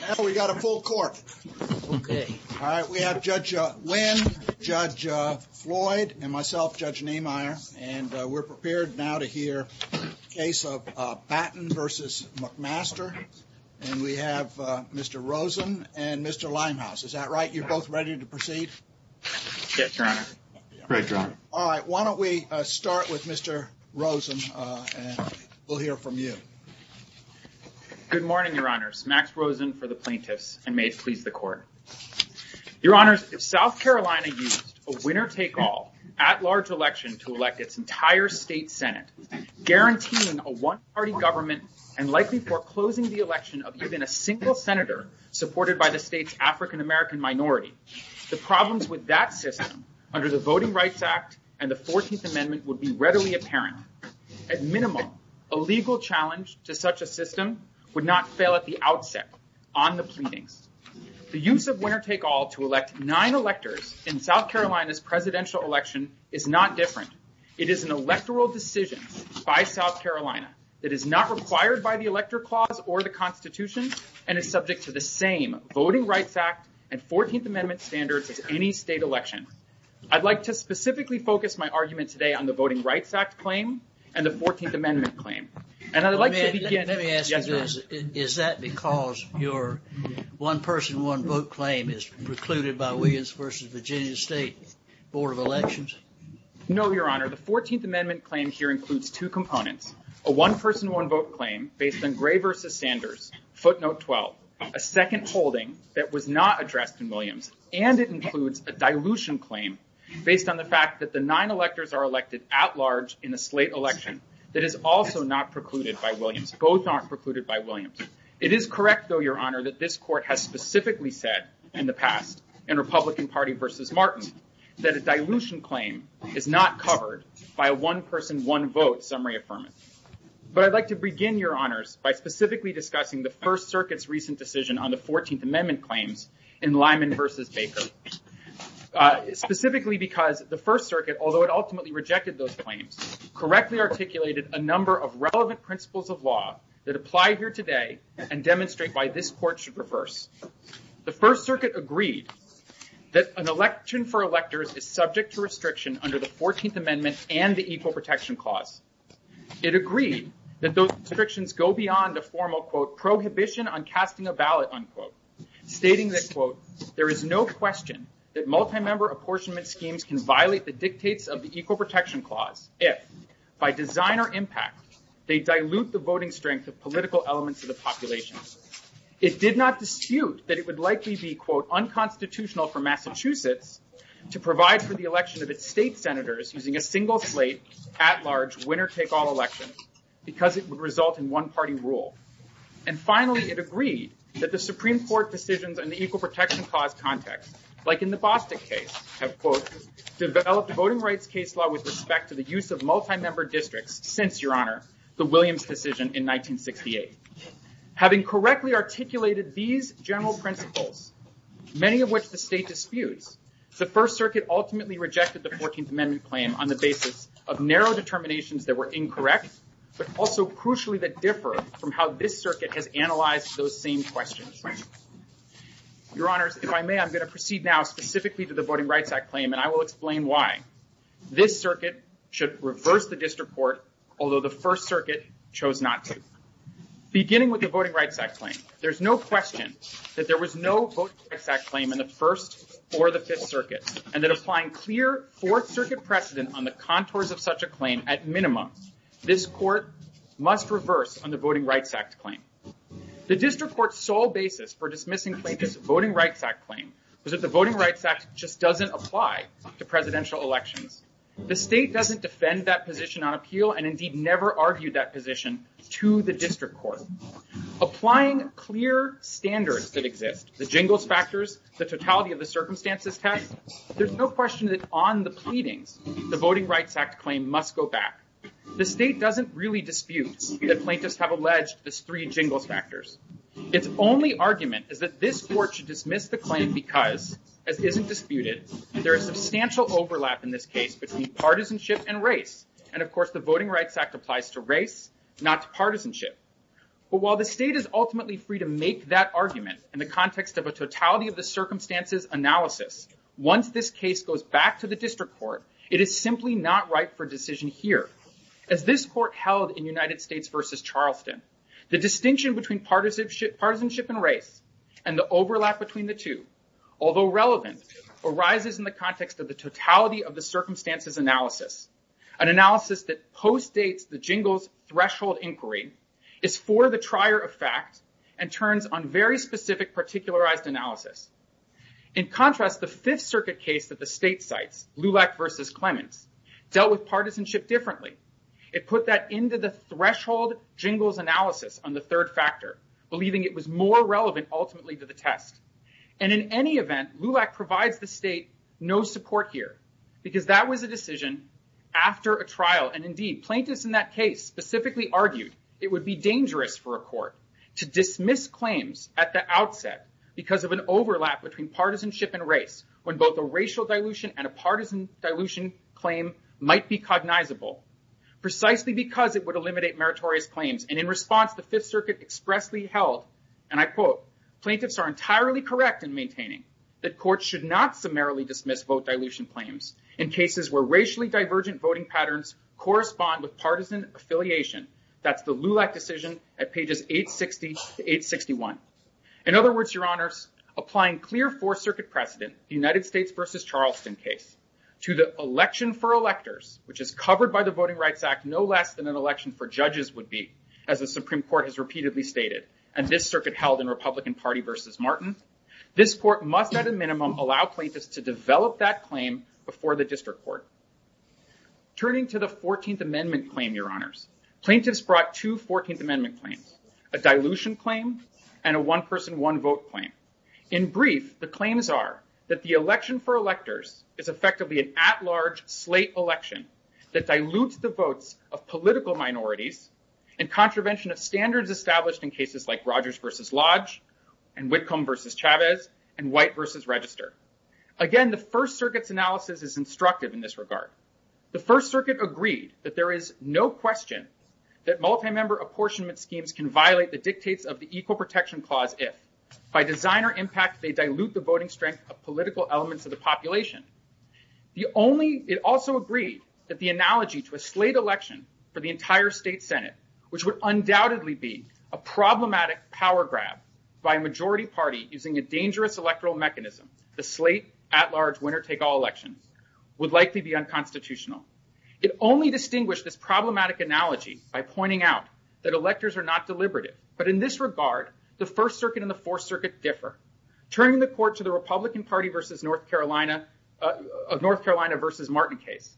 Now we got a full court. Okay. All right. We have Judge Wynn, Judge Floyd, and myself, Judge Niemeyer, and we're prepared now to hear the case of Baten v. McMaster, and we have Mr. Rosen and Mr. Limehouse. Is that right? You're both ready to proceed? Yes, Your Honor. Great, Your Honor. All right. Why don't we start with Mr. Rosen, and we'll hear from you. Good morning, Your Honors. Max Rosen for the plaintiffs, and may it please the court. Your Honors, if South Carolina used a winner-take-all at-large election to elect its entire state Senate, guaranteeing a one-party government and likely foreclosing the election of even a single senator supported by the state's African-American minority, the problems with that system under the Voting Rights Act and the 14th Amendment would be readily apparent. At minimum, a legal challenge to such a system would not fail at the outset on the pleadings. The use of winner-take-all to elect nine electors in South Carolina's presidential election is not different. It is an electoral decision by South Carolina that is not required by the Elector Clause or the Constitution and is subject to the same Voting Rights Act and 14th Amendment standards as any state election. I'd like to specifically focus my argument today on the Voting Rights Act claim and the 14th Amendment claim. And I'd like to begin... Let me ask you this. Is that because your one-person, one-vote claim is precluded by Williams v. Virginia State Board of Elections? No, Your Honor. The 14th Amendment claim here includes two components, a one-person, one-vote claim based on Gray v. Sanders, footnote 12, a second holding that was not addressed in Williams, and it includes a dilution claim based on the fact that the nine electors are elected at-large in a slate election that is also not precluded by Williams. Both aren't precluded by Williams. It is correct, though, Your Honor, that this Court has specifically said in the past in Republican Party v. Martin that a dilution claim is not covered by a one-person, one-vote summary affirmative. But I'd like to begin, Your Honors, by specifically discussing the First Circuit's recent decision on the 14th Amendment claims in Lyman v. Baker. Specifically because the First Circuit, although it ultimately rejected those claims, correctly articulated a number of relevant principles of law that apply here today and demonstrate why this Court should reverse. The First Circuit agreed that an election for electors is subject to restriction under the 14th Amendment and the Equal Protection Clause. It agreed that those restrictions go beyond the formal, quote, prohibition on casting a ballot, unquote, stating that, quote, there is no question that multi-member apportionment schemes can violate the dictates of the Equal Protection Clause if, by design or impact, they dilute the voting strength of political elements of the population. It did not dispute that it would likely be, quote, unconstitutional for Massachusetts to provide for the election of its state senators using a single-slate, at-large, winner-take-all election because it would result in one-party rule. And finally, it agreed that the Supreme Court decisions on the Equal Protection Clause context, like in the Bostick case, have, quote, developed a voting rights case law with respect to the use of multi-member districts since, Your Honor, the Williams decision in 1968. Having correctly articulated these general principles, many of which the state disputes, the First Circuit ultimately rejected the 14th Amendment claim on the basis of narrow Your Honors, if I may, I'm going to proceed now specifically to the Voting Rights Act claim, and I will explain why. This circuit should reverse the district court, although the First Circuit chose not to. Beginning with the Voting Rights Act claim, there's no question that there was no Voting Rights Act claim in the First or the Fifth Circuit, and that applying clear Fourth Circuit precedent on the contours of such a claim, at minimum, this court must reverse on the Voting Rights Act claim. The district court's sole basis for dismissing Plaintiff's Voting Rights Act claim was that the Voting Rights Act just doesn't apply to presidential elections. The state doesn't defend that position on appeal and indeed never argued that position to the district court. Applying clear standards that exist, the jingles factors, the totality of the circumstances test, there's no question that on the pleadings, the Voting Rights Act claim must go back. The state doesn't really dispute that plaintiffs have alleged this three jingles factors. Its only argument is that this court should dismiss the claim because, as isn't disputed, there is substantial overlap in this case between partisanship and race. And of course, the Voting Rights Act applies to race, not to partisanship. But while the state is ultimately free to make that argument in the context of a totality of the circumstances analysis, once this case goes back to the district court, it is simply not right for a decision here. As this court held in United States v. Charleston, the distinction between partisanship and race and the overlap between the two, although relevant, arises in the context of the totality of the circumstances analysis, an analysis that postdates the jingles threshold inquiry, is for the trier of fact, and turns on very specific particularized analysis. In contrast, the Fifth Circuit case that the state cites, Lulac v. Clemens, dealt with partisanship differently. It put that into the threshold jingles analysis on the third factor, believing it was more relevant ultimately to the test. And in any event, Lulac provides the state no support here, because that was a decision after a trial. And indeed, plaintiffs in that case specifically argued it would be dangerous for a court to overlap between partisanship and race, when both a racial dilution and a partisan dilution claim might be cognizable, precisely because it would eliminate meritorious claims. And in response, the Fifth Circuit expressly held, and I quote, plaintiffs are entirely correct in maintaining that courts should not summarily dismiss vote dilution claims in cases where racially divergent voting patterns correspond with partisan affiliation. That's the Lulac decision at pages 860 to 861. In other words, your honors, applying clear Fourth Circuit precedent, the United States v. Charleston case, to the election for electors, which is covered by the Voting Rights Act no less than an election for judges would be, as the Supreme Court has repeatedly stated, and this circuit held in Republican Party v. Martin, this court must at a minimum allow plaintiffs to develop that claim before the district court. Turning to the 14th Amendment claim, your honors, plaintiffs brought two 14th Amendment claims, a dilution claim and a one-person, one-vote claim. In brief, the claims are that the election for electors is effectively an at-large slate election that dilutes the votes of political minorities and contravention of standards established in cases like Rogers v. Lodge and Whitcomb v. Chavez and White v. Register. Again, the First Circuit's analysis is instructive in this regard. The First Circuit agreed that there is no question that multi-member apportionment schemes can violate the dictates of the Equal Protection Clause if, by design or impact, they dilute the voting strength of political elements of the population. It also agreed that the analogy to a slate election for the entire state Senate, which would undoubtedly be a problematic power grab by a majority party using a dangerous electoral mechanism, the slate at-large winner-take-all election, would likely be unconstitutional. It only distinguished this problematic analogy by pointing out that electors are not deliberative. But in this regard, the First Circuit and the Fourth Circuit differ. Turning the court to the Republican Party of North Carolina v. Martin case,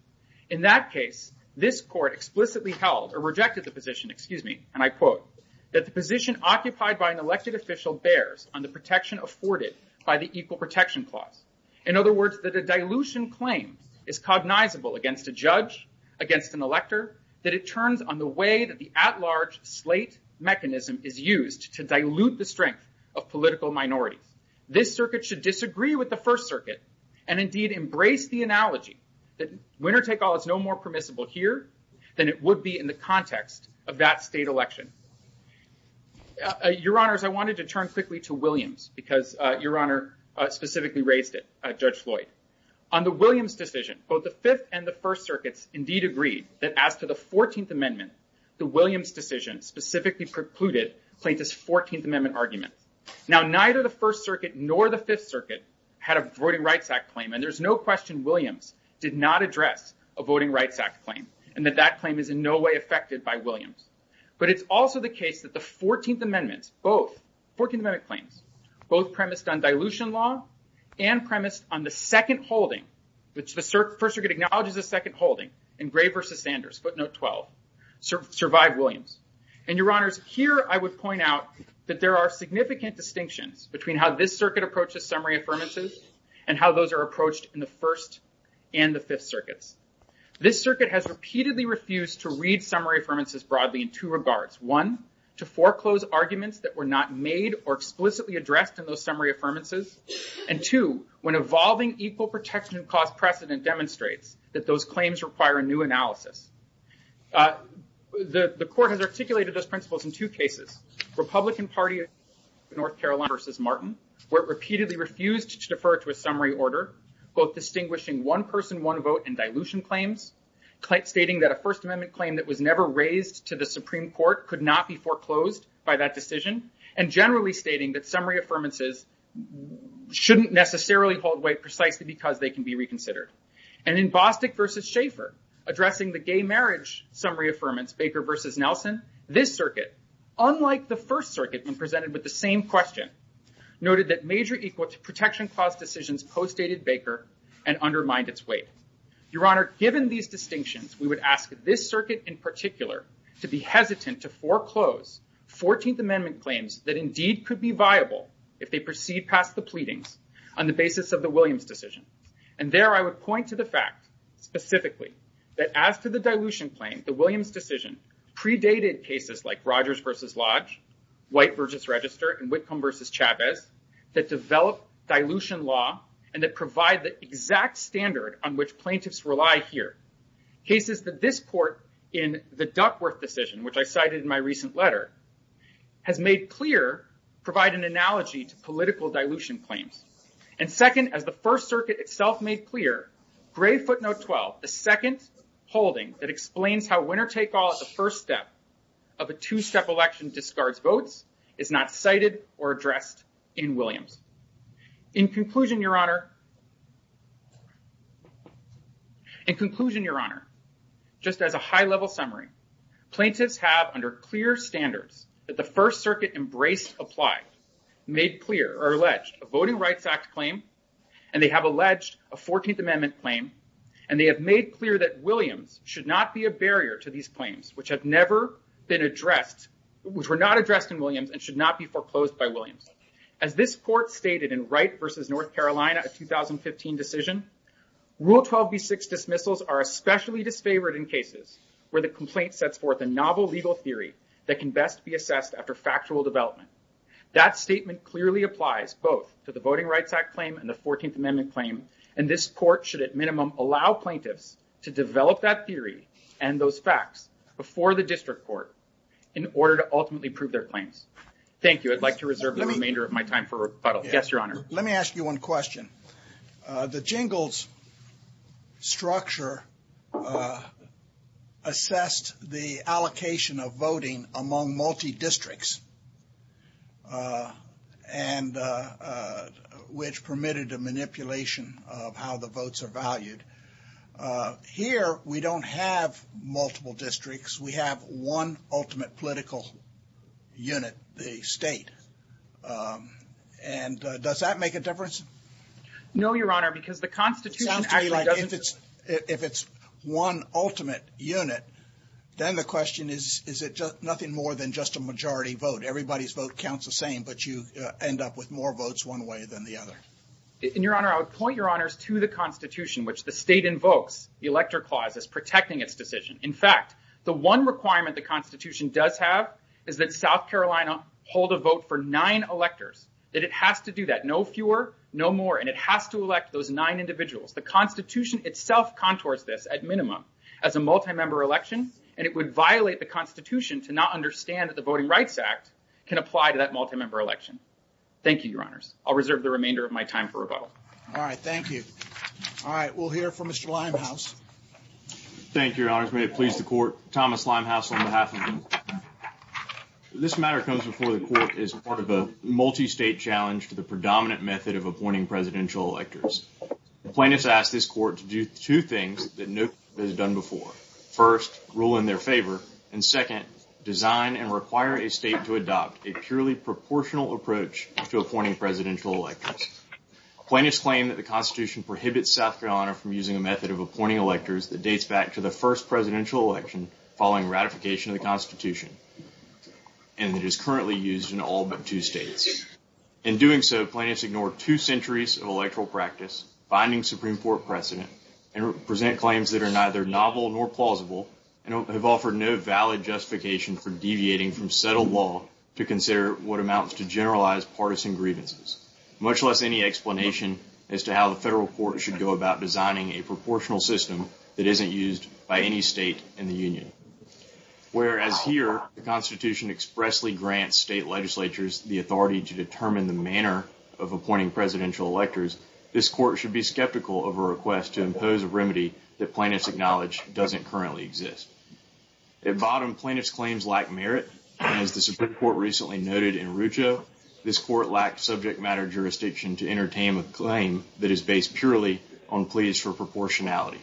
in that case, this court explicitly held, or rejected the position, excuse me, and I quote, that the position occupied by an elected official bears on the protection afforded by the Equal Protection Clause. In other words, that a dilution claim is cognizable against a judge, against an elector, that it turns on the way that the at-large slate mechanism is used to dilute the strength of political minorities. This circuit should disagree with the First Circuit and, indeed, embrace the analogy that winner-take-all is no more permissible here than it would be in the context of that state election. Your Honors, I wanted to turn quickly to Williams, because Your Honor specifically raised it, Judge Floyd. On the Williams decision, both the Fifth and the First Circuits, indeed, agreed that as to the 14th Amendment, the Williams decision specifically precluded plaintiff's 14th Amendment argument. Now, neither the First Circuit nor the Fifth Circuit had a Voting Rights Act claim, and there's no question Williams did not address a Voting Rights Act claim, and that that claim is in no way affected by Williams. But it's also the case that the 14th Amendment, both, 14th Amendment claims, both premised on dilution law and premised on the second holding, which the First Circuit acknowledges a second holding in Gray v. Sanders, footnote 12, survived Williams. And Your Honors, here I would point out that there are significant distinctions between how this circuit approaches summary affirmances and how those are approached in the First and the Fifth Circuits. This circuit has repeatedly refused to read summary affirmances broadly in two regards. One, to foreclose arguments that were not made or explicitly addressed in those summary affirmances. And two, when evolving equal protection cost precedent demonstrates that those claims require a new analysis. The court has articulated those principles in two cases, Republican Party of North Carolina v. Martin, where it repeatedly refused to defer to a summary order, both distinguishing one person, one vote, and dilution claims, stating that a First Amendment claim that was never raised to the Supreme Court could not be foreclosed by that decision, and generally stating that summary affirmances shouldn't necessarily hold weight precisely because they can be reconsidered. And in Bostic v. Schaeffer, addressing the gay marriage summary affirmance, Baker v. Nelson, this circuit, unlike the First Circuit when presented with the same question, noted that major equal protection cost decisions postdated Baker and undermined its weight. Your Honor, given these distinctions, we would ask this circuit in particular to be hesitant to foreclose 14th Amendment claims that indeed could be viable if they proceed past the pleadings on the basis of the Williams decision. And there I would point to the fact, specifically, that as to the dilution claim, the Williams decision predated cases like Rogers v. Lodge, White v. Register, and Whitcomb v. Chavez, that develop dilution law and that provide the exact standard on which plaintiffs rely here, cases that this court in the Duckworth decision, which I cited in my recent letter, has made clear provide an analogy to political dilution claims. And second, as the First Circuit itself made clear, Gray footnote 12, the second holding that explains how winner-take-all at the first step of a two-step election discards votes, is not cited or addressed in Williams. In conclusion, Your Honor, just as a high-level summary, plaintiffs have under clear standards that the First Circuit embraced applied, made clear or alleged a Voting Rights Act claim, and they have alleged a 14th Amendment claim, and they have made clear that Williams should not be a barrier to these claims, which have never been addressed, which were not addressed in Williams and should not be foreclosed by Williams. As this court stated in Wright v. North Carolina, a 2015 decision, Rule 12b6 dismissals are especially disfavored in cases where the complaint sets forth a novel legal theory that can best be assessed after factual development. That statement clearly applies both to the Voting Rights Act claim and the 14th Amendment claim, and this court should at minimum allow plaintiffs to develop that theory and those facts before the district court in order to ultimately prove their claims. Thank you. I'd like to reserve the remainder of my time for rebuttal. Yes, Your Honor. Let me ask you one question. The Jingles structure assessed the allocation of voting among multi-districts, which permitted a manipulation of how the votes are valued. Here, we don't have multiple districts. We have one ultimate political unit, the state. And does that make a difference? No, Your Honor, because the Constitution actually doesn't. It sounds to me like if it's one ultimate unit, then the question is, is it nothing more than just a majority vote? Everybody's vote counts the same, but you end up with more votes one way than the other. And, Your Honor, I would point Your Honors to the Constitution, which the state invokes the Elector Clause as protecting its decision. In fact, the one requirement the Constitution does have is that South Carolina hold a vote for nine electors, that it has to do that, no fewer, no more, and it has to elect those nine individuals. The Constitution itself contours this at minimum as a multi-member election, and it would violate the Constitution to not understand that the Voting Rights Act can apply to that multi-member election. Thank you, Your Honors. I'll reserve the remainder of my time for rebuttal. All right, thank you. All right, we'll hear from Mr. Limehouse. Thank you, Your Honors. May it please the Court. Thomas Limehouse on behalf of the Court. This matter comes before the Court as part of a multi-state challenge to the predominant method of appointing presidential electors. The plaintiffs ask this Court to do two things that no one has done before. First, rule in their favor, and second, design and require a state to adopt a purely proportional approach to appointing presidential electors. Plaintiffs claim that the Constitution prohibits South Carolina from using a method of appointing electors that dates back to the first presidential election following ratification of the Constitution, and that is currently used in all but two states. In doing so, plaintiffs ignore two centuries of electoral practice, binding Supreme Court precedent, and present claims that are neither novel nor plausible, and have offered no valid justification for deviating from settled law to consider what amounts to generalized partisan grievances, much less any explanation as to how the federal court should go about designing a proportional system that isn't used by any state in the Union. Whereas here, the Constitution expressly grants state legislatures the authority to determine the manner of appointing presidential electors, this Court should be skeptical of a request to impose a remedy that plaintiffs acknowledge doesn't currently exist. At bottom, plaintiffs' claims lack merit, and as the Supreme Court recently noted in Rucho, this Court lacked subject matter jurisdiction to entertain a claim that is based purely on pleas for proportionality.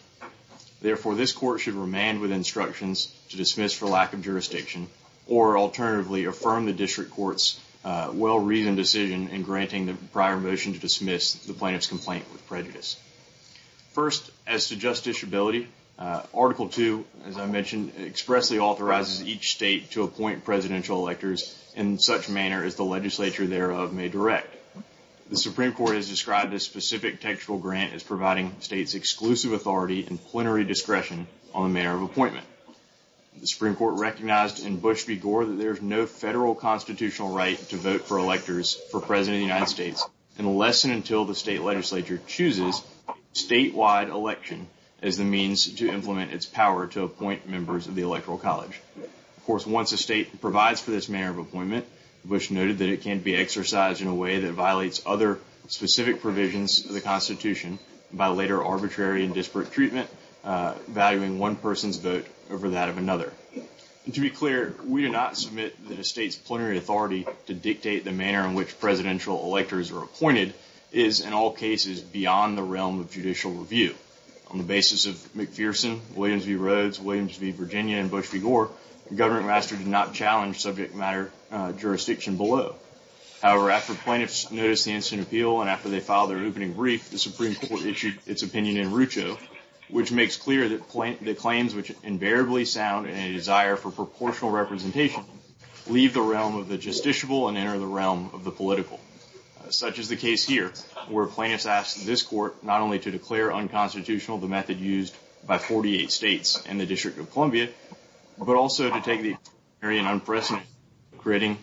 Therefore, this Court should remand with instructions to dismiss for lack of jurisdiction, or alternatively well-reasoned decision in granting the prior motion to dismiss the plaintiff's complaint with prejudice. First, as to justiciability, Article II, as I mentioned, expressly authorizes each state to appoint presidential electors in such manner as the legislature thereof may direct. The Supreme Court has described this specific textual grant as providing states exclusive authority and plenary discretion on the manner of appointment. The Supreme Court recognized in Bush v. Gore that there is no federal constitutional right to vote for electors for President of the United States unless and until the state legislature chooses a statewide election as the means to implement its power to appoint members of the Electoral College. Of course, once a state provides for this manner of appointment, Bush noted that it can be exercised in a way that violates other specific provisions of the Constitution by later arbitrary and disparate treatment, valuing one person's vote over that of another. To be clear, we do not submit that a state's plenary authority to dictate the manner in which presidential electors are appointed is, in all cases, beyond the realm of judicial review. On the basis of McPherson, Williams v. Rhodes, Williams v. Virginia, and Bush v. Gore, the Government Master did not challenge subject matter jurisdiction below. However, after plaintiffs noticed the incident of appeal and after they filed their opening brief, the Supreme Court issued its opinion in Rucho, which makes clear that claims which invariably sound in a desire for proportional representation leave the realm of the justiciable and enter the realm of the political. Such is the case here, where plaintiffs asked this Court not only to declare unconstitutional the method used by 48 states and the District of Columbia, but also to take the unprecedented, creating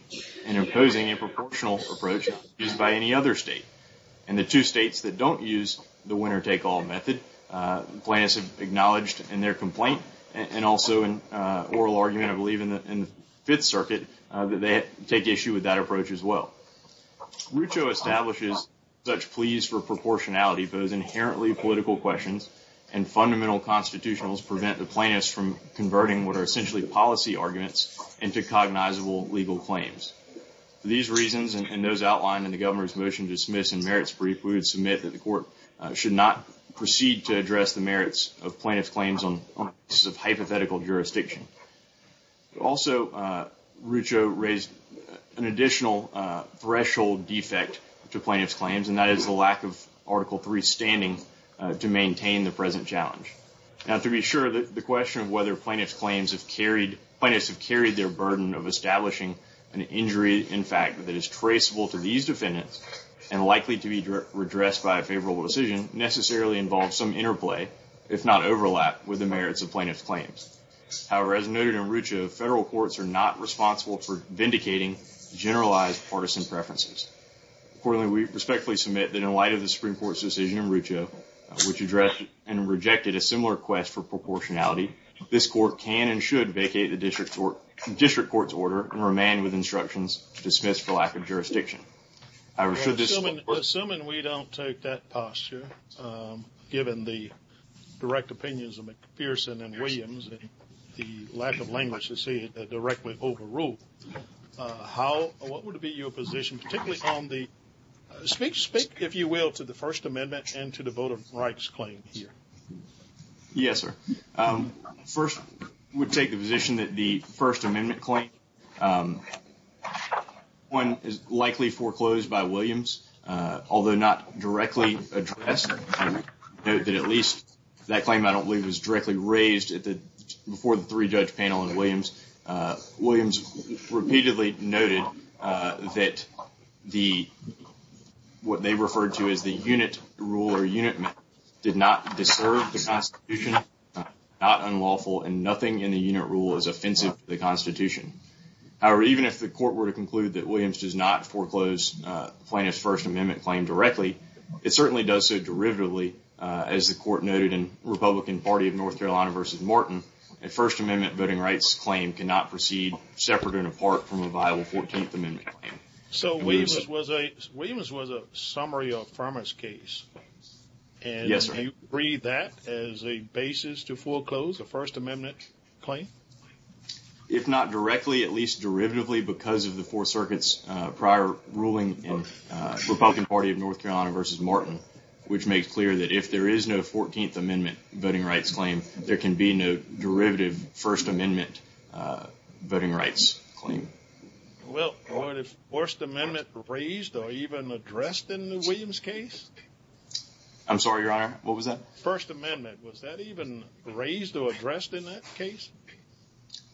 and imposing a proportional approach used by any other state. In the two states that don't use the winner-take-all method, plaintiffs have acknowledged in their complaint and also in oral argument, I believe, in the Fifth Circuit that they take issue with that approach as well. Rucho establishes such pleas for proportionality pose inherently political questions and fundamental constitutionals prevent the plaintiffs from converting what are essentially policy arguments into cognizable legal claims. For these reasons and those outlined in the Governor's Motion to Dismiss and Merits Brief, we would submit that the Court should not proceed to address the merits of plaintiff's claims on the basis of hypothetical jurisdiction. Also, Rucho raised an additional threshold defect to plaintiff's claims, and that is the lack of Article III standing to maintain the present challenge. Now, to be sure, the question of whether plaintiff's claims have carried, plaintiffs have carried their burden of establishing an injury, in fact, that is traceable to these defendants and likely to be redressed by a favorable decision necessarily involves some interplay, if not overlap, with the merits of plaintiff's claims. However, as noted in Rucho, federal courts are not responsible for vindicating generalized partisan preferences. Accordingly, we respectfully submit that in light of the Supreme Court's decision in Rucho, which addressed and rejected a similar quest for proportionality, this Court can and should vacate the District Court's order and remain with instructions dismissed for lack of jurisdiction. Assuming we don't take that posture, given the direct opinions of McPherson and Williams and the lack of language to see it directly overruled, what would be your position, particularly on the, speak, if you will, to the First Amendment and to the Voter Rights Claim here? Yes, sir. First, I would take the position that the First Amendment claim, one, is likely foreclosed by Williams, although not directly addressed, and note that at least that claim I don't believe was directly raised at the, before the three-judge panel in Williams. Williams repeatedly noted that the, what they referred to as the unit rule or unit method did not disturb the Constitution, not unlawful, and nothing in the unit rule is offensive to the Constitution. However, even if the Court were to conclude that Williams does not foreclose Plaintiff's First Amendment claim directly, it certainly does so derivatively, as the Court noted in Republican Party of North Carolina v. Martin, a First Amendment voting rights claim cannot proceed separate and apart from a viable Fourteenth Amendment claim. So Williams was a, Williams was a summary of Furman's case. Yes, sir. Do you agree that as a basis to foreclose a First Amendment claim? If not directly, at least derivatively, because of the Fourth Circuit's prior ruling in Republican Party of North Carolina v. Martin, which makes clear that if there is no Fourteenth Amendment voting rights claim, there can be no derivative First Amendment voting rights claim. Well, are the First Amendment raised or even addressed in the Williams case? I'm sorry, Your Honor, what was that? First Amendment. Was that even raised or addressed in that case?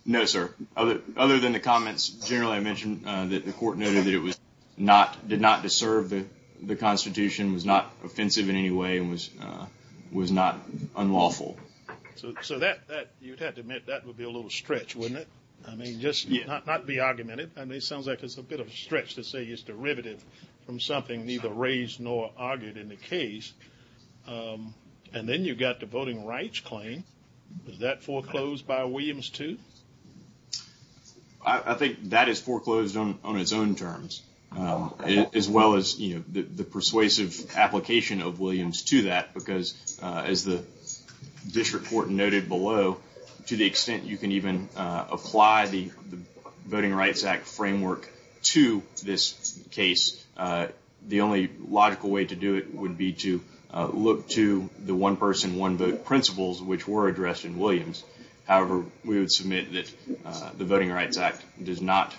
No, sir. Other than the comments, generally, I mentioned that the Court noted that it was not, did not disturb the Constitution, was not offensive in any way, and was not unlawful. So that, you'd have to admit, that would be a little stretch, wouldn't it? I mean, just not be argumentative, I mean, it sounds like it's a bit of a stretch to say it's derivative from something neither raised nor argued in the case. And then you've got the voting rights claim, was that foreclosed by Williams too? I think that is foreclosed on its own terms, as well as, you know, the persuasive application of Williams to that, because as the District Court noted below, to the extent you can even apply the Voting Rights Act framework to this case, the only logical way to do it would be to look to the one-person, one-vote principles, which were addressed in Williams. However, we would submit that the Voting Rights Act does not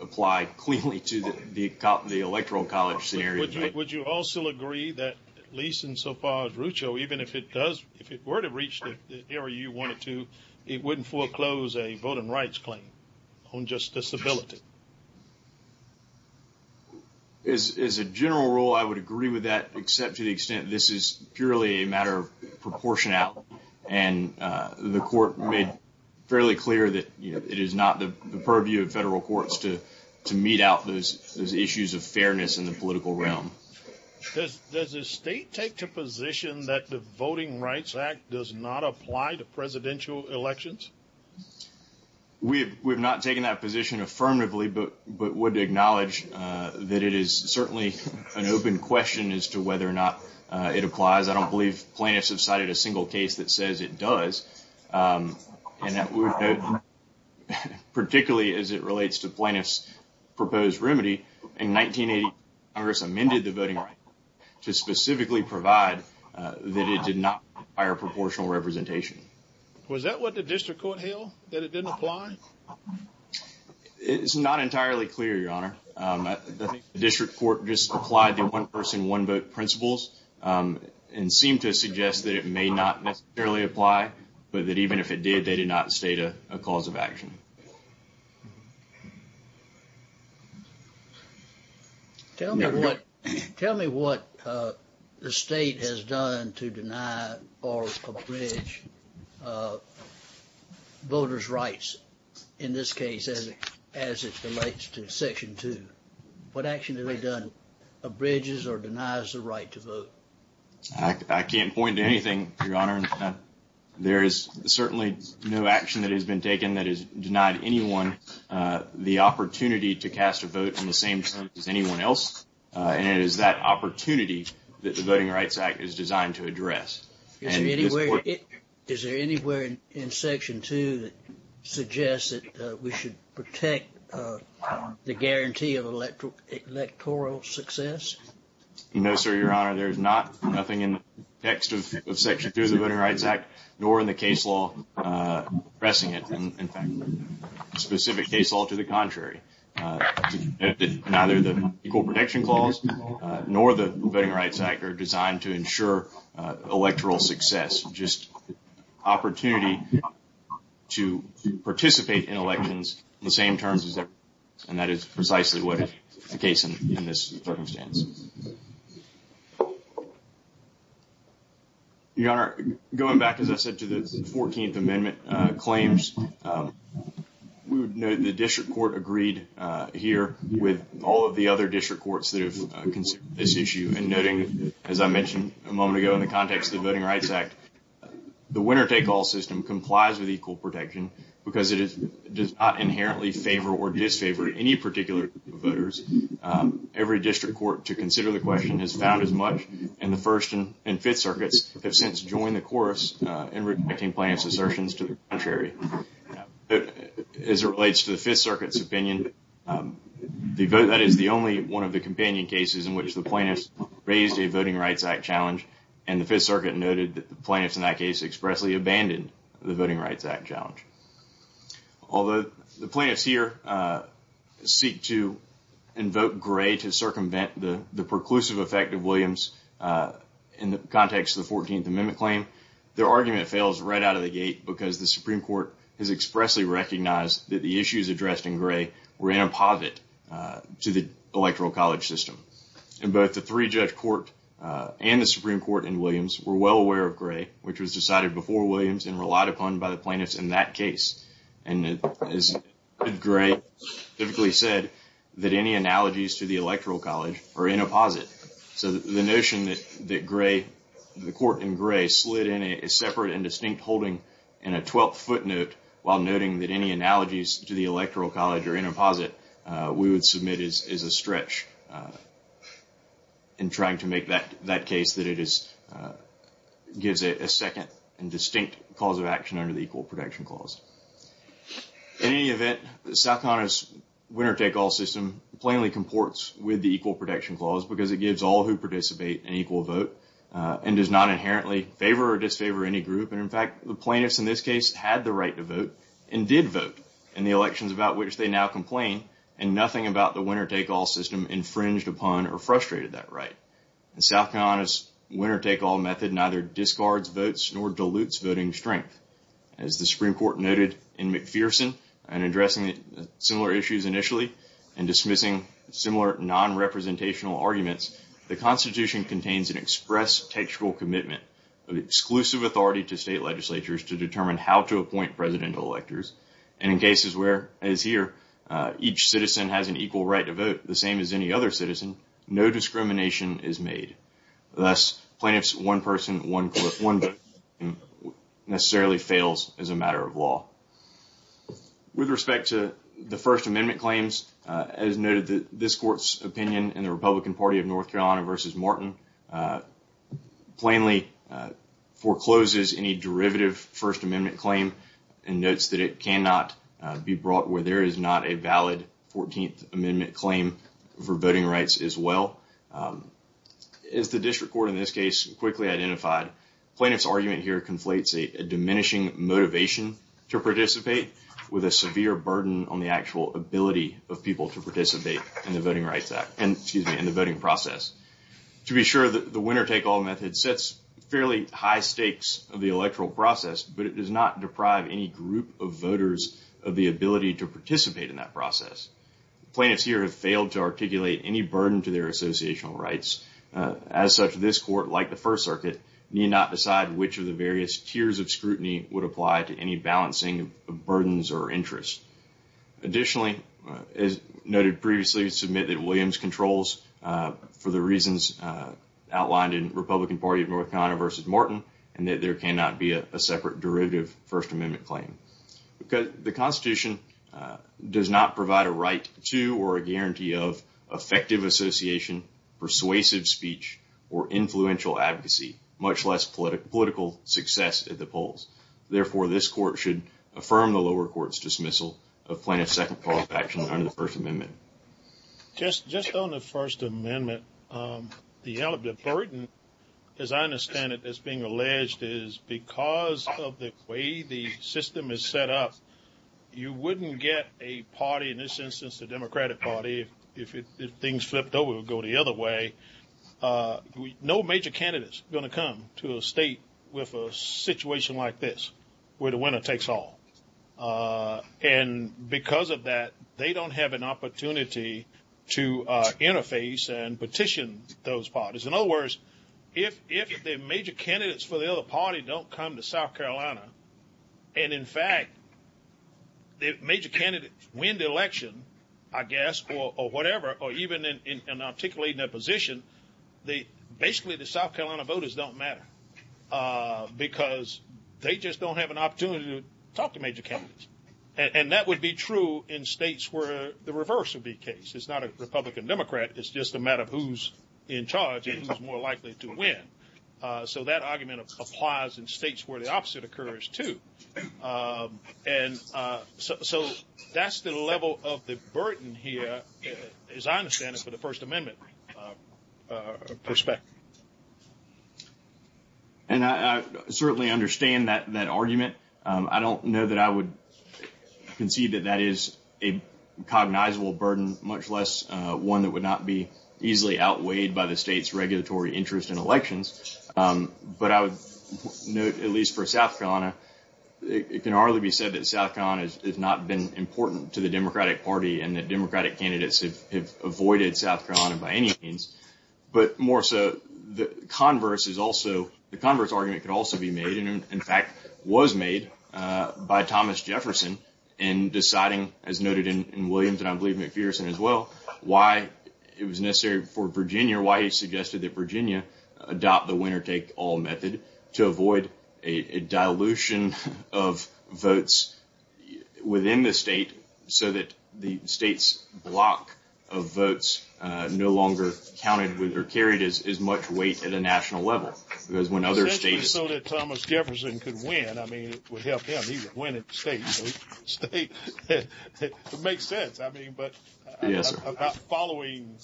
apply cleanly to the Electoral College scenario. Would you also agree that, at least insofar as Rucho, even if it does, if it were to reach the area you want it to, it wouldn't foreclose a voting rights claim on just disability? As a general rule, I would agree with that, except to the extent this is purely a matter of proportionality, and the Court made fairly clear that, you know, it is not the purview of federal courts to mete out those issues of fairness in the political realm. Does the State take the position that the Voting Rights Act does not apply to presidential elections? We have not taken that position affirmatively, but would acknowledge that it is certainly an open question as to whether or not it applies. I don't believe plaintiffs have cited a single case that says it does, and that we would vote, particularly as it relates to plaintiffs' proposed remedy, in 1980 Congress amended the Voting Rights Act to specifically provide that it did not require proportional representation. Was that what the District Court held, that it didn't apply? It's not entirely clear, Your Honor. I think the District Court just applied the one-person, one-vote principles and seemed to suggest that it may not necessarily apply, but that even if it did, they did not state a cause of action. Tell me what the State has done to deny or abridge voters' rights in this case as it relates to Section 2. What action have they done abridges or denies the right to vote? I can't point to anything, Your Honor. There is certainly no action that has been taken that has denied anyone the opportunity to cast a vote in the same sense as anyone else, and it is that opportunity that the Voting Rights Act is designed to address. Is there anywhere in Section 2 that suggests that we should protect the guarantee of electoral success? No, sir, Your Honor. There is nothing in the text of Section 2 of the Voting Rights Act, nor in the case law pressing it, in fact, the specific case law to the contrary, that neither the Equal Protection Clause nor the Voting Rights Act are designed to ensure electoral success, just opportunity to participate in elections in the same terms as everyone else, and that is precisely what is the case in this circumstance. Your Honor, going back, as I said, to the 14th Amendment claims, we would note the District Court agreed here with all of the other District Courts that have considered this issue in noting, as I mentioned a moment ago in the context of the Voting Rights Act, the winner-take-all system complies with equal protection because it does not inherently favor or disfavor any particular group of voters. Every District Court to consider the question has found as much, and the First and Fifth Circuits have since joined the chorus in rejecting plaintiffs' assertions to the contrary. As it relates to the Fifth Circuit's opinion, that is the only one of the companion cases in which the plaintiffs raised a Voting Rights Act challenge, and the Fifth Circuit noted that the plaintiffs in that case expressly abandoned the Voting Rights Act challenge. Although the plaintiffs here seek to invoke Gray to circumvent the preclusive effect of Williams in the context of the 14th Amendment claim, their argument fails right out of the gate because the Supreme Court has expressly recognized that the issues addressed in Gray were in a positive to the Electoral College system, and both the three-judge court and the Supreme Court in Williams were well aware of Gray, which was decided before Williams and relied upon by the plaintiffs in that case. And as Gray typically said, that any analogies to the Electoral College are in a positive. So the notion that Gray, the court in Gray, slid in a separate and distinct holding in a 12-foot note while noting that any analogies to the Electoral College are in a positive, we would submit as a stretch in trying to make that case that it is, gives it a second and distinct cause of action under the Equal Protection Clause. In any event, South Carolina's winner-take-all system plainly comports with the Equal Protection Clause because it gives all who participate an equal vote and does not inherently favor or disfavor any group. And in fact, the plaintiffs in this case had the right to vote and did vote in the elections about which they now complain, and nothing about the winner-take-all system infringed upon or frustrated that right. And South Carolina's winner-take-all method neither discards votes nor dilutes voting strength. As the Supreme Court noted in McPherson in addressing similar issues initially and dismissing similar non-representational arguments, the Constitution contains an express textual commitment of exclusive authority to state legislatures to determine how to appoint presidential electors. And in cases where, as here, each citizen has an equal right to vote, the same as any other citizen, no discrimination is made. Thus, plaintiffs' one-person, one-vote system necessarily fails as a matter of law. With respect to the First Amendment claims, as noted, this Court's opinion in the Republican Party of North Carolina v. Martin plainly forecloses any derivative First Amendment claim and notes that it cannot be brought where there is not a valid 14th Amendment claim for voting rights as well. As the District Court in this case quickly identified, plaintiffs' argument here conflates a diminishing motivation to participate with a severe burden on the actual ability of people to participate in the voting process. To be sure, the winner-take-all method sets fairly high stakes of the electoral process, but it does not deprive any group of voters of the ability to participate in that process. Plaintiffs here have failed to articulate any burden to their associational rights. As such, this Court, like the First Circuit, need not decide which of the various tiers of scrutiny would apply to any balancing of burdens or interests. Additionally, as noted previously, we submit that Williams controls for the reasons outlined in the Republican Party of North Carolina v. Martin and that there cannot be a separate derivative First Amendment claim. The Constitution does not provide a right to or a guarantee of effective association, persuasive speech, or influential advocacy, much less political success at the polls. Therefore, this Court should affirm the lower court's dismissal of plaintiff's second call of action under the First Amendment. Just on the First Amendment, the burden, as I understand it, as being alleged is because of the way the system is set up. You wouldn't get a party, in this instance, the Democratic Party, if things flipped over, would go the other way. No major candidates are going to come to a state with a situation like this, where the winner-takes-all. And because of that, they don't have an opportunity to interface and petition those parties. In other words, if the major candidates for the other party don't come to South Carolina, and in fact, the major candidates win the election, I guess, or whatever, or even in articulating their position, basically the South Carolina voters don't matter. Because they just don't have an opportunity to talk to major candidates. And that would be true in states where the reverse would be the case. It's not a Republican-Democrat. It's just a matter of who's in charge and who's more likely to win. So that argument applies in states where the opposite occurs, too. And so that's the level of the burden here, as I understand it, for the First Amendment perspective. And I certainly understand that argument. I don't know that I would concede that that is a cognizable burden, much less one that would not be easily outweighed by the state's regulatory interest in elections. But I would note, at least for South Carolina, it can hardly be said that South Carolina has not been important to the Democratic Party and that Democratic candidates have avoided South Carolina by any means. But more so, the converse argument could also be made, and in fact, was made by Thomas Jefferson in deciding, as noted in Williams, and I believe McPherson as well, why it was necessary for Virginia, why he suggested that Virginia adopt the winner-take-all method to avoid a dilution of votes within the state so that the state's block of votes no longer counted with or carried as much weight at a national level. Because when other states... It makes sense, I mean, but about following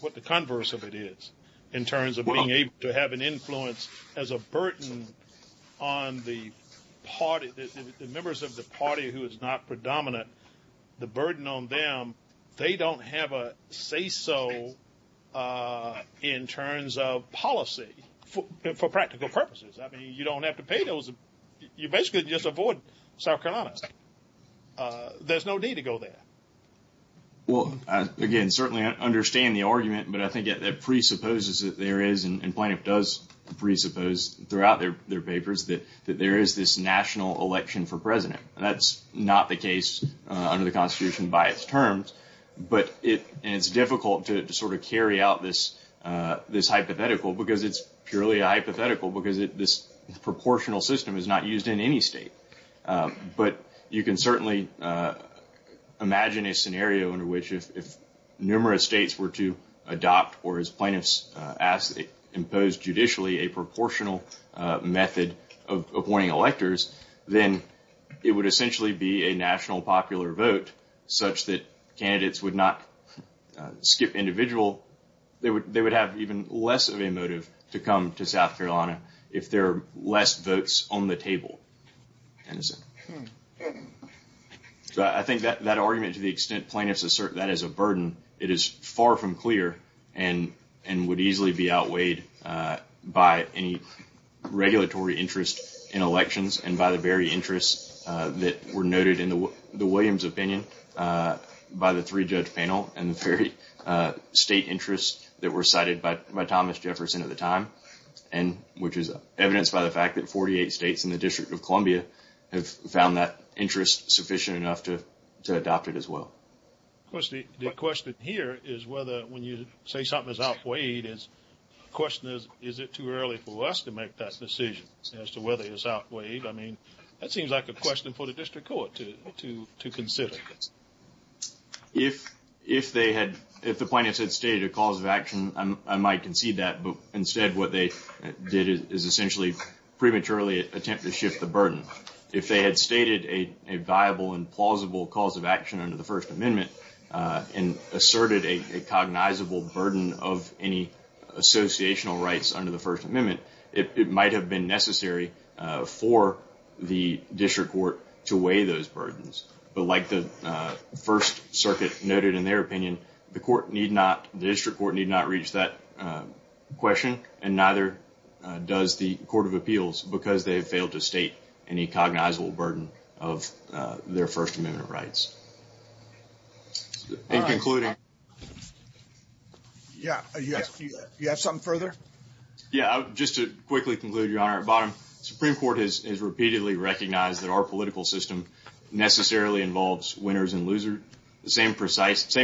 what the converse of it is in terms of being able to have an influence as a burden on the party, the members of the party who is not predominant, the burden on them, they don't have a say-so in terms of policy for practical purposes. I mean, you don't have to pay those... You basically just avoid South Carolina. There's no need to go there. Well, again, certainly I understand the argument, but I think that presupposes that there is, and Plano does presuppose throughout their papers, that there is this national election for president. That's not the case under the Constitution by its terms, but it's difficult to sort of carry out this hypothetical because it's purely a hypothetical because this proportional system is not used in any state. But you can certainly imagine a scenario under which if numerous states were to adopt or as Plano has imposed judicially, a proportional method of appointing electors, then it would essentially be a national popular vote such that candidates would not skip individual... They would have even less of a motive to come to South Carolina if there are less votes on the table. So I think that argument, to the extent Plano has asserted that as a burden, it is far from clear and would easily be outweighed by any regulatory interest in elections and by the very interests that were noted in the Williams opinion by the three-judge panel and the very state interests that were cited by Thomas Jefferson at the time, which is evidenced by the fact that 48 states in the District of Columbia have found that interest sufficient enough to adopt it as well. Of course, the question here is whether when you say something is outweighed, the question is, is it too early for us to make that decision as to whether it is outweighed? I mean, that seems like a question for the District Court to consider. If the plaintiffs had stated a cause of action, I might concede that. Instead, what they did is essentially prematurely attempt to shift the burden. If they had stated a viable and plausible cause of action under the First Amendment and asserted a cognizable burden of any associational rights under the First Amendment, it might have been necessary for the District Court to weigh those burdens. But like the First Circuit noted in their opinion, the District Court need not reach that question, and neither does the Court of Appeals, because they have failed to state any cognizable burden of their First Amendment rights. In concluding... Yeah, you have something further? Yeah, just to quickly conclude, Your Honor, at bottom, the Supreme Court has repeatedly recognized that our political system necessarily involves winners and losers. The same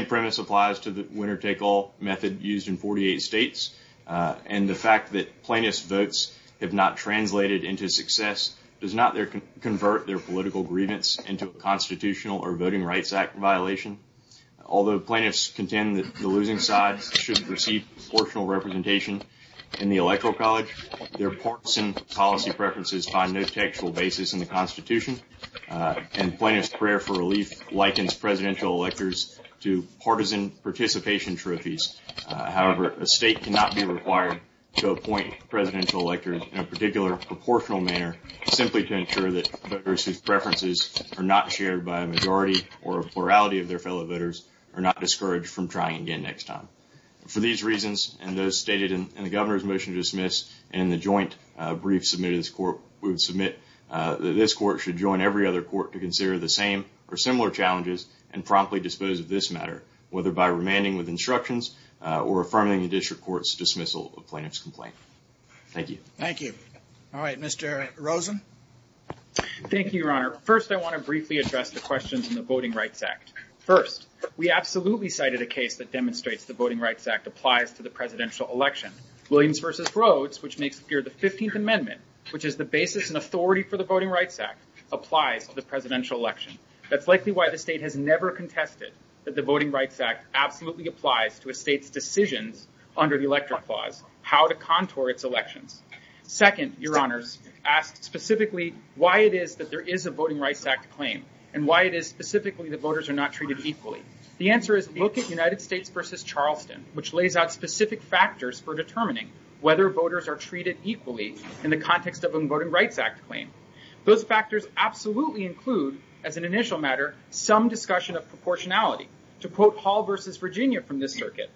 premise applies to the winner-take-all method used in 48 states, and the fact that plaintiffs' votes have not translated into success does not convert their political grievance into a Constitutional or Voting Rights Act violation. Although plaintiffs contend that the losing side should receive proportional representation in the Electoral College, their partisan policy preferences find no textual basis in the Constitution, and plaintiffs' prayer for relief likens presidential electors to partisan participation trophies. However, a state cannot be required to appoint presidential electors in a particular proportional manner simply to ensure that voters whose preferences are not shared by a majority or a plurality of their fellow voters are not discouraged from trying again next time. For these reasons, and those stated in the Governor's motion to dismiss, and in the joint brief submitted to this Court, we would submit that this Court should join every other Court to consider the same or similar challenges and promptly dispose of this matter, whether by remanding with instructions or affirming the District Court's dismissal of plaintiff's complaint. Thank you. Thank you. All right. Mr. Rosen? Thank you, Your Honor. First, I want to briefly address the questions in the Voting Rights Act. First, we absolutely cited a case that demonstrates the Voting Rights Act applies to the presidential election. Williams v. Rhodes, which makes clear the 15th Amendment, which is the basis and authority for the Voting Rights Act, applies to the presidential election. That's likely why the state has never contested that the Voting Rights Act absolutely applies to a state's decisions under the Elector Clause how to contour its elections. Second, Your Honors, ask specifically why it is that there is a Voting Rights Act claim, and why it is specifically that voters are not treated equally. The answer is look at United States v. Charleston, which lays out specific factors for determining whether voters are treated equally in the context of a Voting Rights Act claim. Those factors absolutely include, as an initial matter, some discussion of proportionality. To quote Hall v. Virginia from this circuit,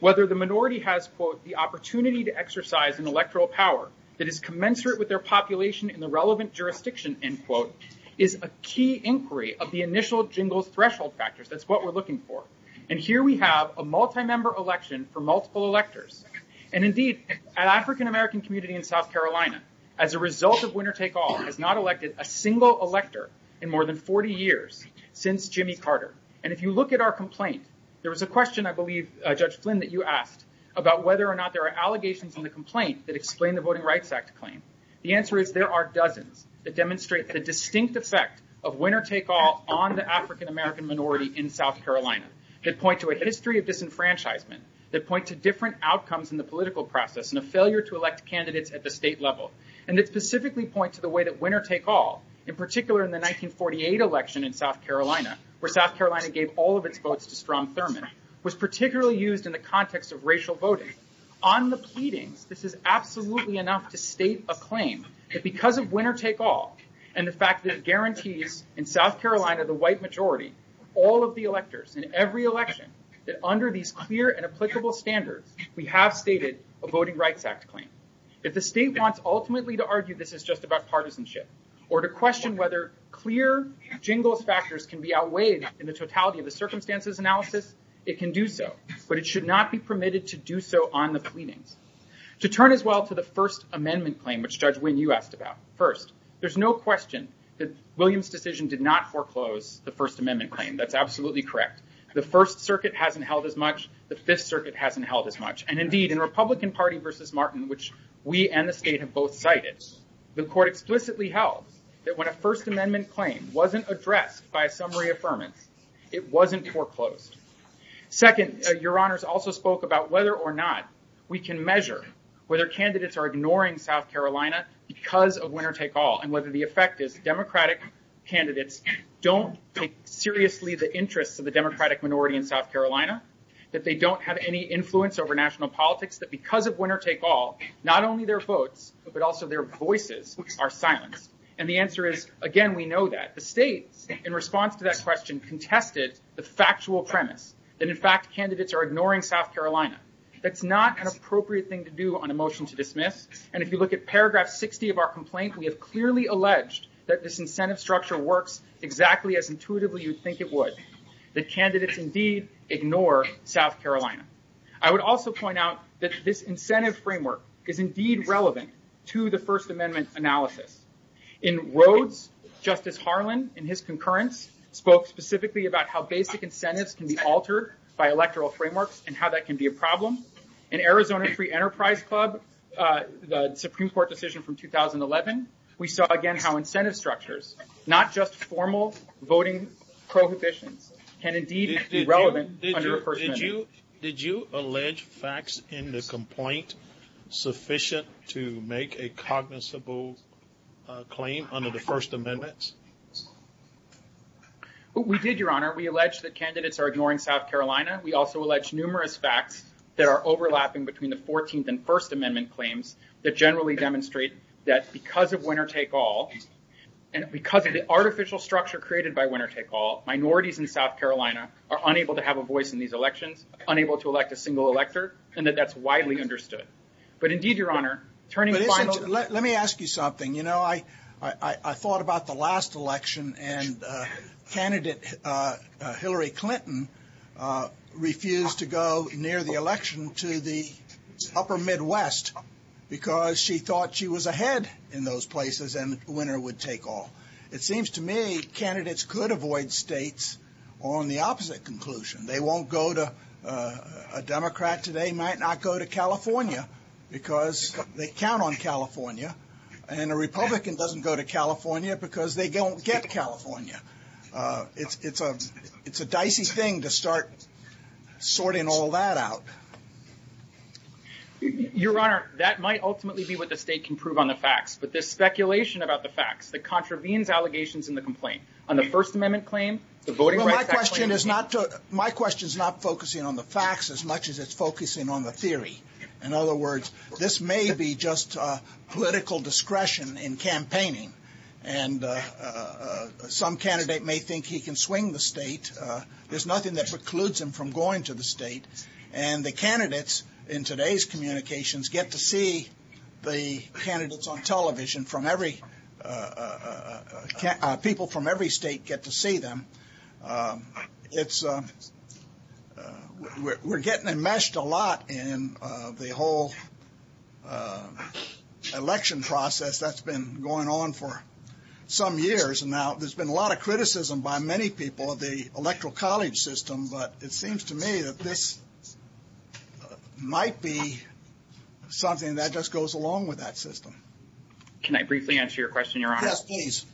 whether the minority has, quote, the opportunity to exercise an electoral power that is commensurate with their population in the relevant jurisdiction, end quote, is a key inquiry of the initial jingles threshold factors. That's what we're looking for. And here we have a multi-member election for multiple electors. And indeed, an African-American community in South Carolina, as a result of winner-take-all, has not elected a single elector in more than 40 years since Jimmy Carter. And if you look at our complaint, there was a question, I believe, Judge Flynn, that you asked about whether or not there are allegations in the complaint that explain the Voting Rights Act claim. The answer is there are dozens that demonstrate the distinct effect of winner-take-all on the African-American minority in South Carolina. They point to a history of disenfranchisement. They point to different outcomes in the political process and a failure to elect candidates at the state level. And they specifically point to the way that winner-take-all, in particular in the 1948 election in South Carolina, where South Carolina gave all of its votes to Strom Thurmond, was particularly used in the context of racial voting. On the pleadings, this is absolutely enough to state a claim that because of winner-take-all and the fact that it guarantees in South Carolina the white majority, all of the electors in every election, that under these clear and applicable standards, we have stated a Voting Rights Act claim. If the state wants ultimately to argue this is just about partisanship or to question whether clear jingles factors can be outweighed in the totality of the circumstances analysis, it can do so. But it should not be permitted to do so on the pleadings. To turn as well to the First Amendment claim, which, Judge Wynne, you asked about. First, there's no question that Williams' decision did not foreclose the First Amendment claim. That's absolutely correct. The First Circuit hasn't held as much. The Fifth Circuit hasn't held as much. And indeed, in Republican Party versus Martin, which we and the state have both cited, the court explicitly held that when a First Amendment claim wasn't addressed by a summary affirmance, it wasn't foreclosed. Second, Your Honors also spoke about whether or not we can measure whether candidates are ignoring South Carolina because of winner-take-all and whether the effect is Democratic candidates don't take seriously the interests of the Democratic minority in South Carolina, that they don't have any influence over national politics, that because of winner-take-all, not only their votes, but also their voices are silenced. And the answer is, again, we know that. The states, in response to that question, contested the factual premise that, in fact, candidates are ignoring South Carolina. That's not an appropriate thing to do on a motion to dismiss. And if you look at paragraph 60 of our complaint, we have clearly alleged that this incentive structure works exactly as intuitively you'd think it would, that candidates indeed ignore South Carolina. I would also point out that this incentive framework is indeed relevant to the First Amendment analysis. In Rhodes, Justice Harlan, in his concurrence, spoke specifically about how basic incentives can be altered by electoral frameworks and how that can be a problem. In Arizona Free Enterprise Club, the Supreme Court decision from 2011, we saw, again, how incentive structures, not just formal voting prohibitions, can indeed be relevant under a First Amendment. Did you allege facts in the complaint sufficient to make a cognizable claim under the First Amendment? We did, Your Honor. We allege that candidates are ignoring South Carolina. We also allege numerous facts that are overlapping between the 14th and First Amendment claims that generally demonstrate that because of winner-take-all and because of the artificial structure created by winner-take-all, minorities in South Carolina are unable to have a voice in these elections, unable to elect a single elector, and that that's widely understood. But indeed, Your Honor, turning to final- Let me ask you something. You know, I thought about the last election and candidate Hillary Clinton refused to go near the election to the upper Midwest because she thought she was ahead in those places and the winner would take all. It seems to me candidates could avoid states on the opposite conclusion. They won't go to- A Democrat today might not go to California because they count on California. And a Republican doesn't go to California because they don't get California. It's a dicey thing to start sorting all that out. Your Honor, that might ultimately be what the state can prove on the facts. But this speculation about the facts that contravenes allegations in the complaint on the First Amendment claim- My question is not focusing on the facts as much as it's focusing on the theory. In other words, this may be just political discretion in campaigning and some candidate may think he can swing the state. There's nothing that precludes him from going to the state. And the candidates in today's communications get to see the candidates on television from every- People from every state get to see them. We're getting enmeshed a lot in the whole election process that's been going on for some years. And now there's been a lot of criticism by many people of the electoral college system. But it seems to me that this might be something that just goes along with that system. Can I briefly answer your question, Your Honor? Yes, please.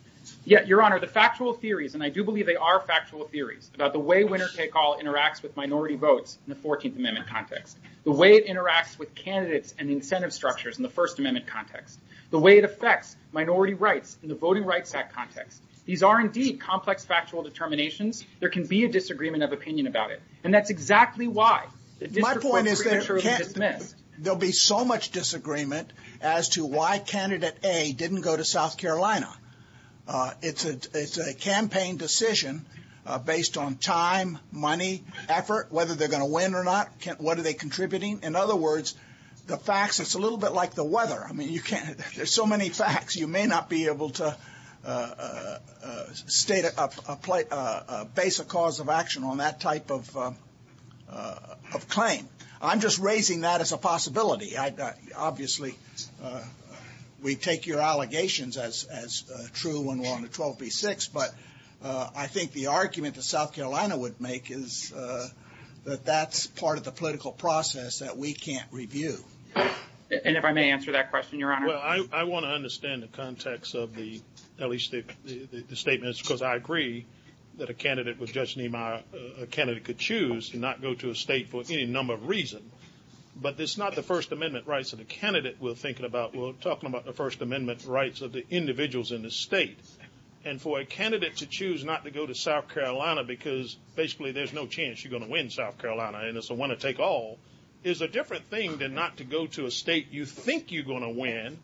Yeah, Your Honor, the factual theories, and I do believe they are factual theories about the way winner-take-all interacts with minority votes in the 14th Amendment context, the way it interacts with candidates and incentive structures in the First Amendment context, the way it affects minority rights in the Voting Rights Act context. These are indeed complex factual determinations. There can be a disagreement of opinion about it. And that's exactly why- My point is that there'll be so much disagreement as to why candidate A didn't go to South Carolina. It's a campaign decision based on time, money, effort, whether they're going to win or not. What are they contributing? In other words, the facts, it's a little bit like the weather. There's so many facts. You may not be able to state a basic cause of action on that type of claim. I'm just raising that as a possibility. Obviously, we take your allegations as true when we're on the 12v6. But I think the argument that South Carolina would make is that that's part of the political process that we can't review. And if I may answer that question, Your Honor. Well, I want to understand the context of the, at least the statements, because I agree that a candidate with Judge Niemeyer, a candidate could choose to not go to a state for any number of reasons. But it's not the First Amendment rights of the candidate we're thinking about. We're talking about the First Amendment rights of the individuals in the state. And for a candidate to choose not to go to South Carolina, because basically there's no chance you're going to win South Carolina and it's a one to take all, is a different thing than not to go to a state you think you're going to win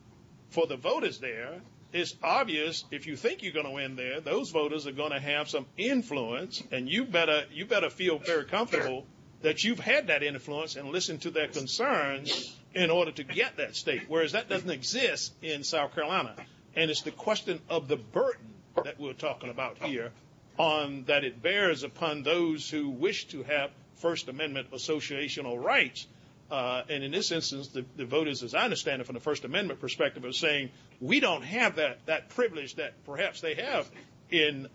for the voters there. It's obvious if you think you're going to win there, those voters are going to have some influence and you better feel very comfortable that you've had that influence and listened to their concerns in order to get that state. Whereas that doesn't exist in South Carolina. And it's the question of the burden that we're talking about here, that it bears upon those who wish to have First Amendment associational rights. And in this instance, the voters, as I understand it, from the First Amendment perspective are saying, we don't have that privilege that perhaps they have in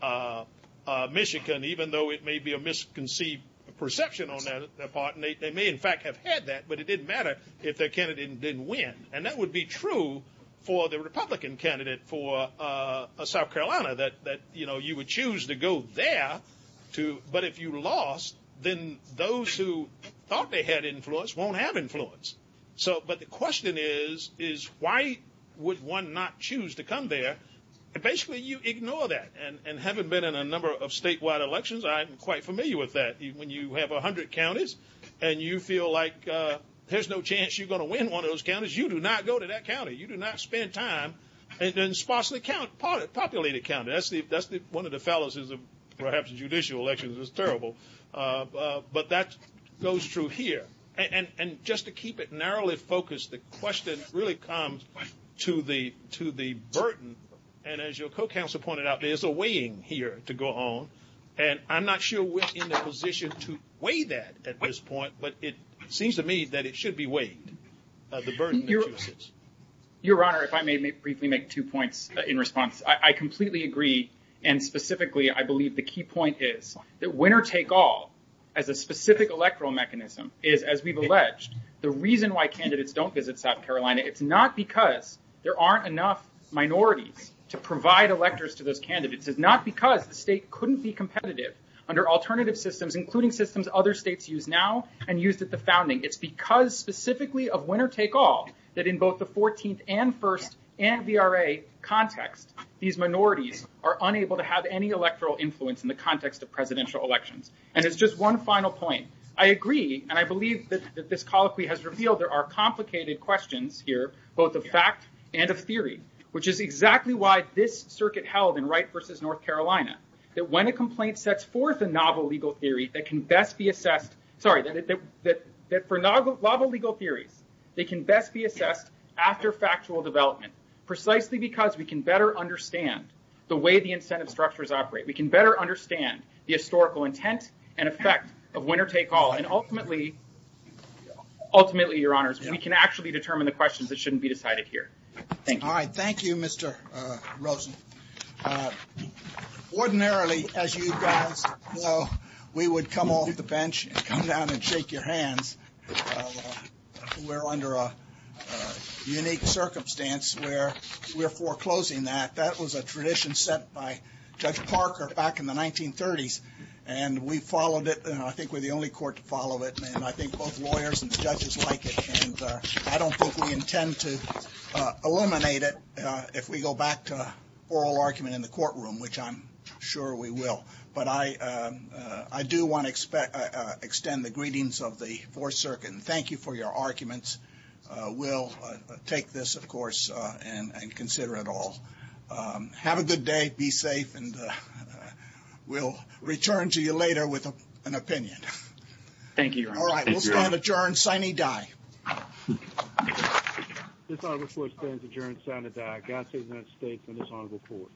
Michigan, even though it may be a misconceived perception on their part. And they may in fact have had that, but it didn't matter if their candidate didn't win. And that would be true for the Republican candidate for South Carolina, that you would choose to go there. But if you lost, then those who thought they had influence won't have influence. So, but the question is, is why would one not choose to come there? Basically you ignore that. And having been in a number of statewide elections, I'm quite familiar with that. When you have a hundred counties and you feel like there's no chance you're going to win one of those counties, you do not go to that county. You do not spend time in sparsely populated county. That's one of the fallacies of perhaps judicial elections is terrible. But that goes through here. And just to keep it narrowly focused, the question really comes to the burden. And as your co-counsel pointed out, there's a weighing here to go on. And I'm not sure we're in a position to weigh that at this point, but it seems to me that it should be weighed, the burden of choices. Your Honor, if I may briefly make two points in response. I completely agree. And specifically, I believe the key point is that winner take all as a specific electoral mechanism is as we've alleged, the reason why candidates don't visit South Carolina, it's not because there aren't enough minorities to provide electors to those candidates. It's not because the state couldn't be competitive under alternative systems, including systems other states use now and used at the founding. It's because specifically of winner take all that in both the 14th and first and VRA context, these minorities are unable to have any electoral influence in the context of presidential elections. And it's just one final point. I agree. And I believe that this colloquy has revealed there are complicated questions here, both the fact and a theory, which is exactly why this circuit held in Wright versus North Carolina, that when a complaint sets forth a novel legal theory that can best be assessed, sorry, that for novel legal theories, they can best be assessed after factual development, precisely because we can better understand the way the incentive structures operate. We can better understand the historical intent and effect of winner take all. And ultimately, your honors, we can actually determine the questions that shouldn't be decided here. Thank you. All right. Thank you, Mr. Rosen. Ordinarily, as you guys know, we would come off the bench and come down and shake your hands. We're under a unique circumstance where we're foreclosing that. That was a tradition set by Judge Parker back in the 1930s. And we followed it. And I think we're the only court to follow it. And I think both lawyers and the judges like it. And I don't think we intend to eliminate it if we go back to oral argument in the courtroom, which I'm sure we will. But I do want to extend the greetings of the Fourth Circuit. And thank you for your arguments. We'll take this, of course, and consider it all. Have a good day. Be safe. And we'll return to you later with an opinion. Thank you, your honor. All right. We'll stand adjourned. Signing die. This audit report stands adjourned. Signing die. God save the United States and this honorable court.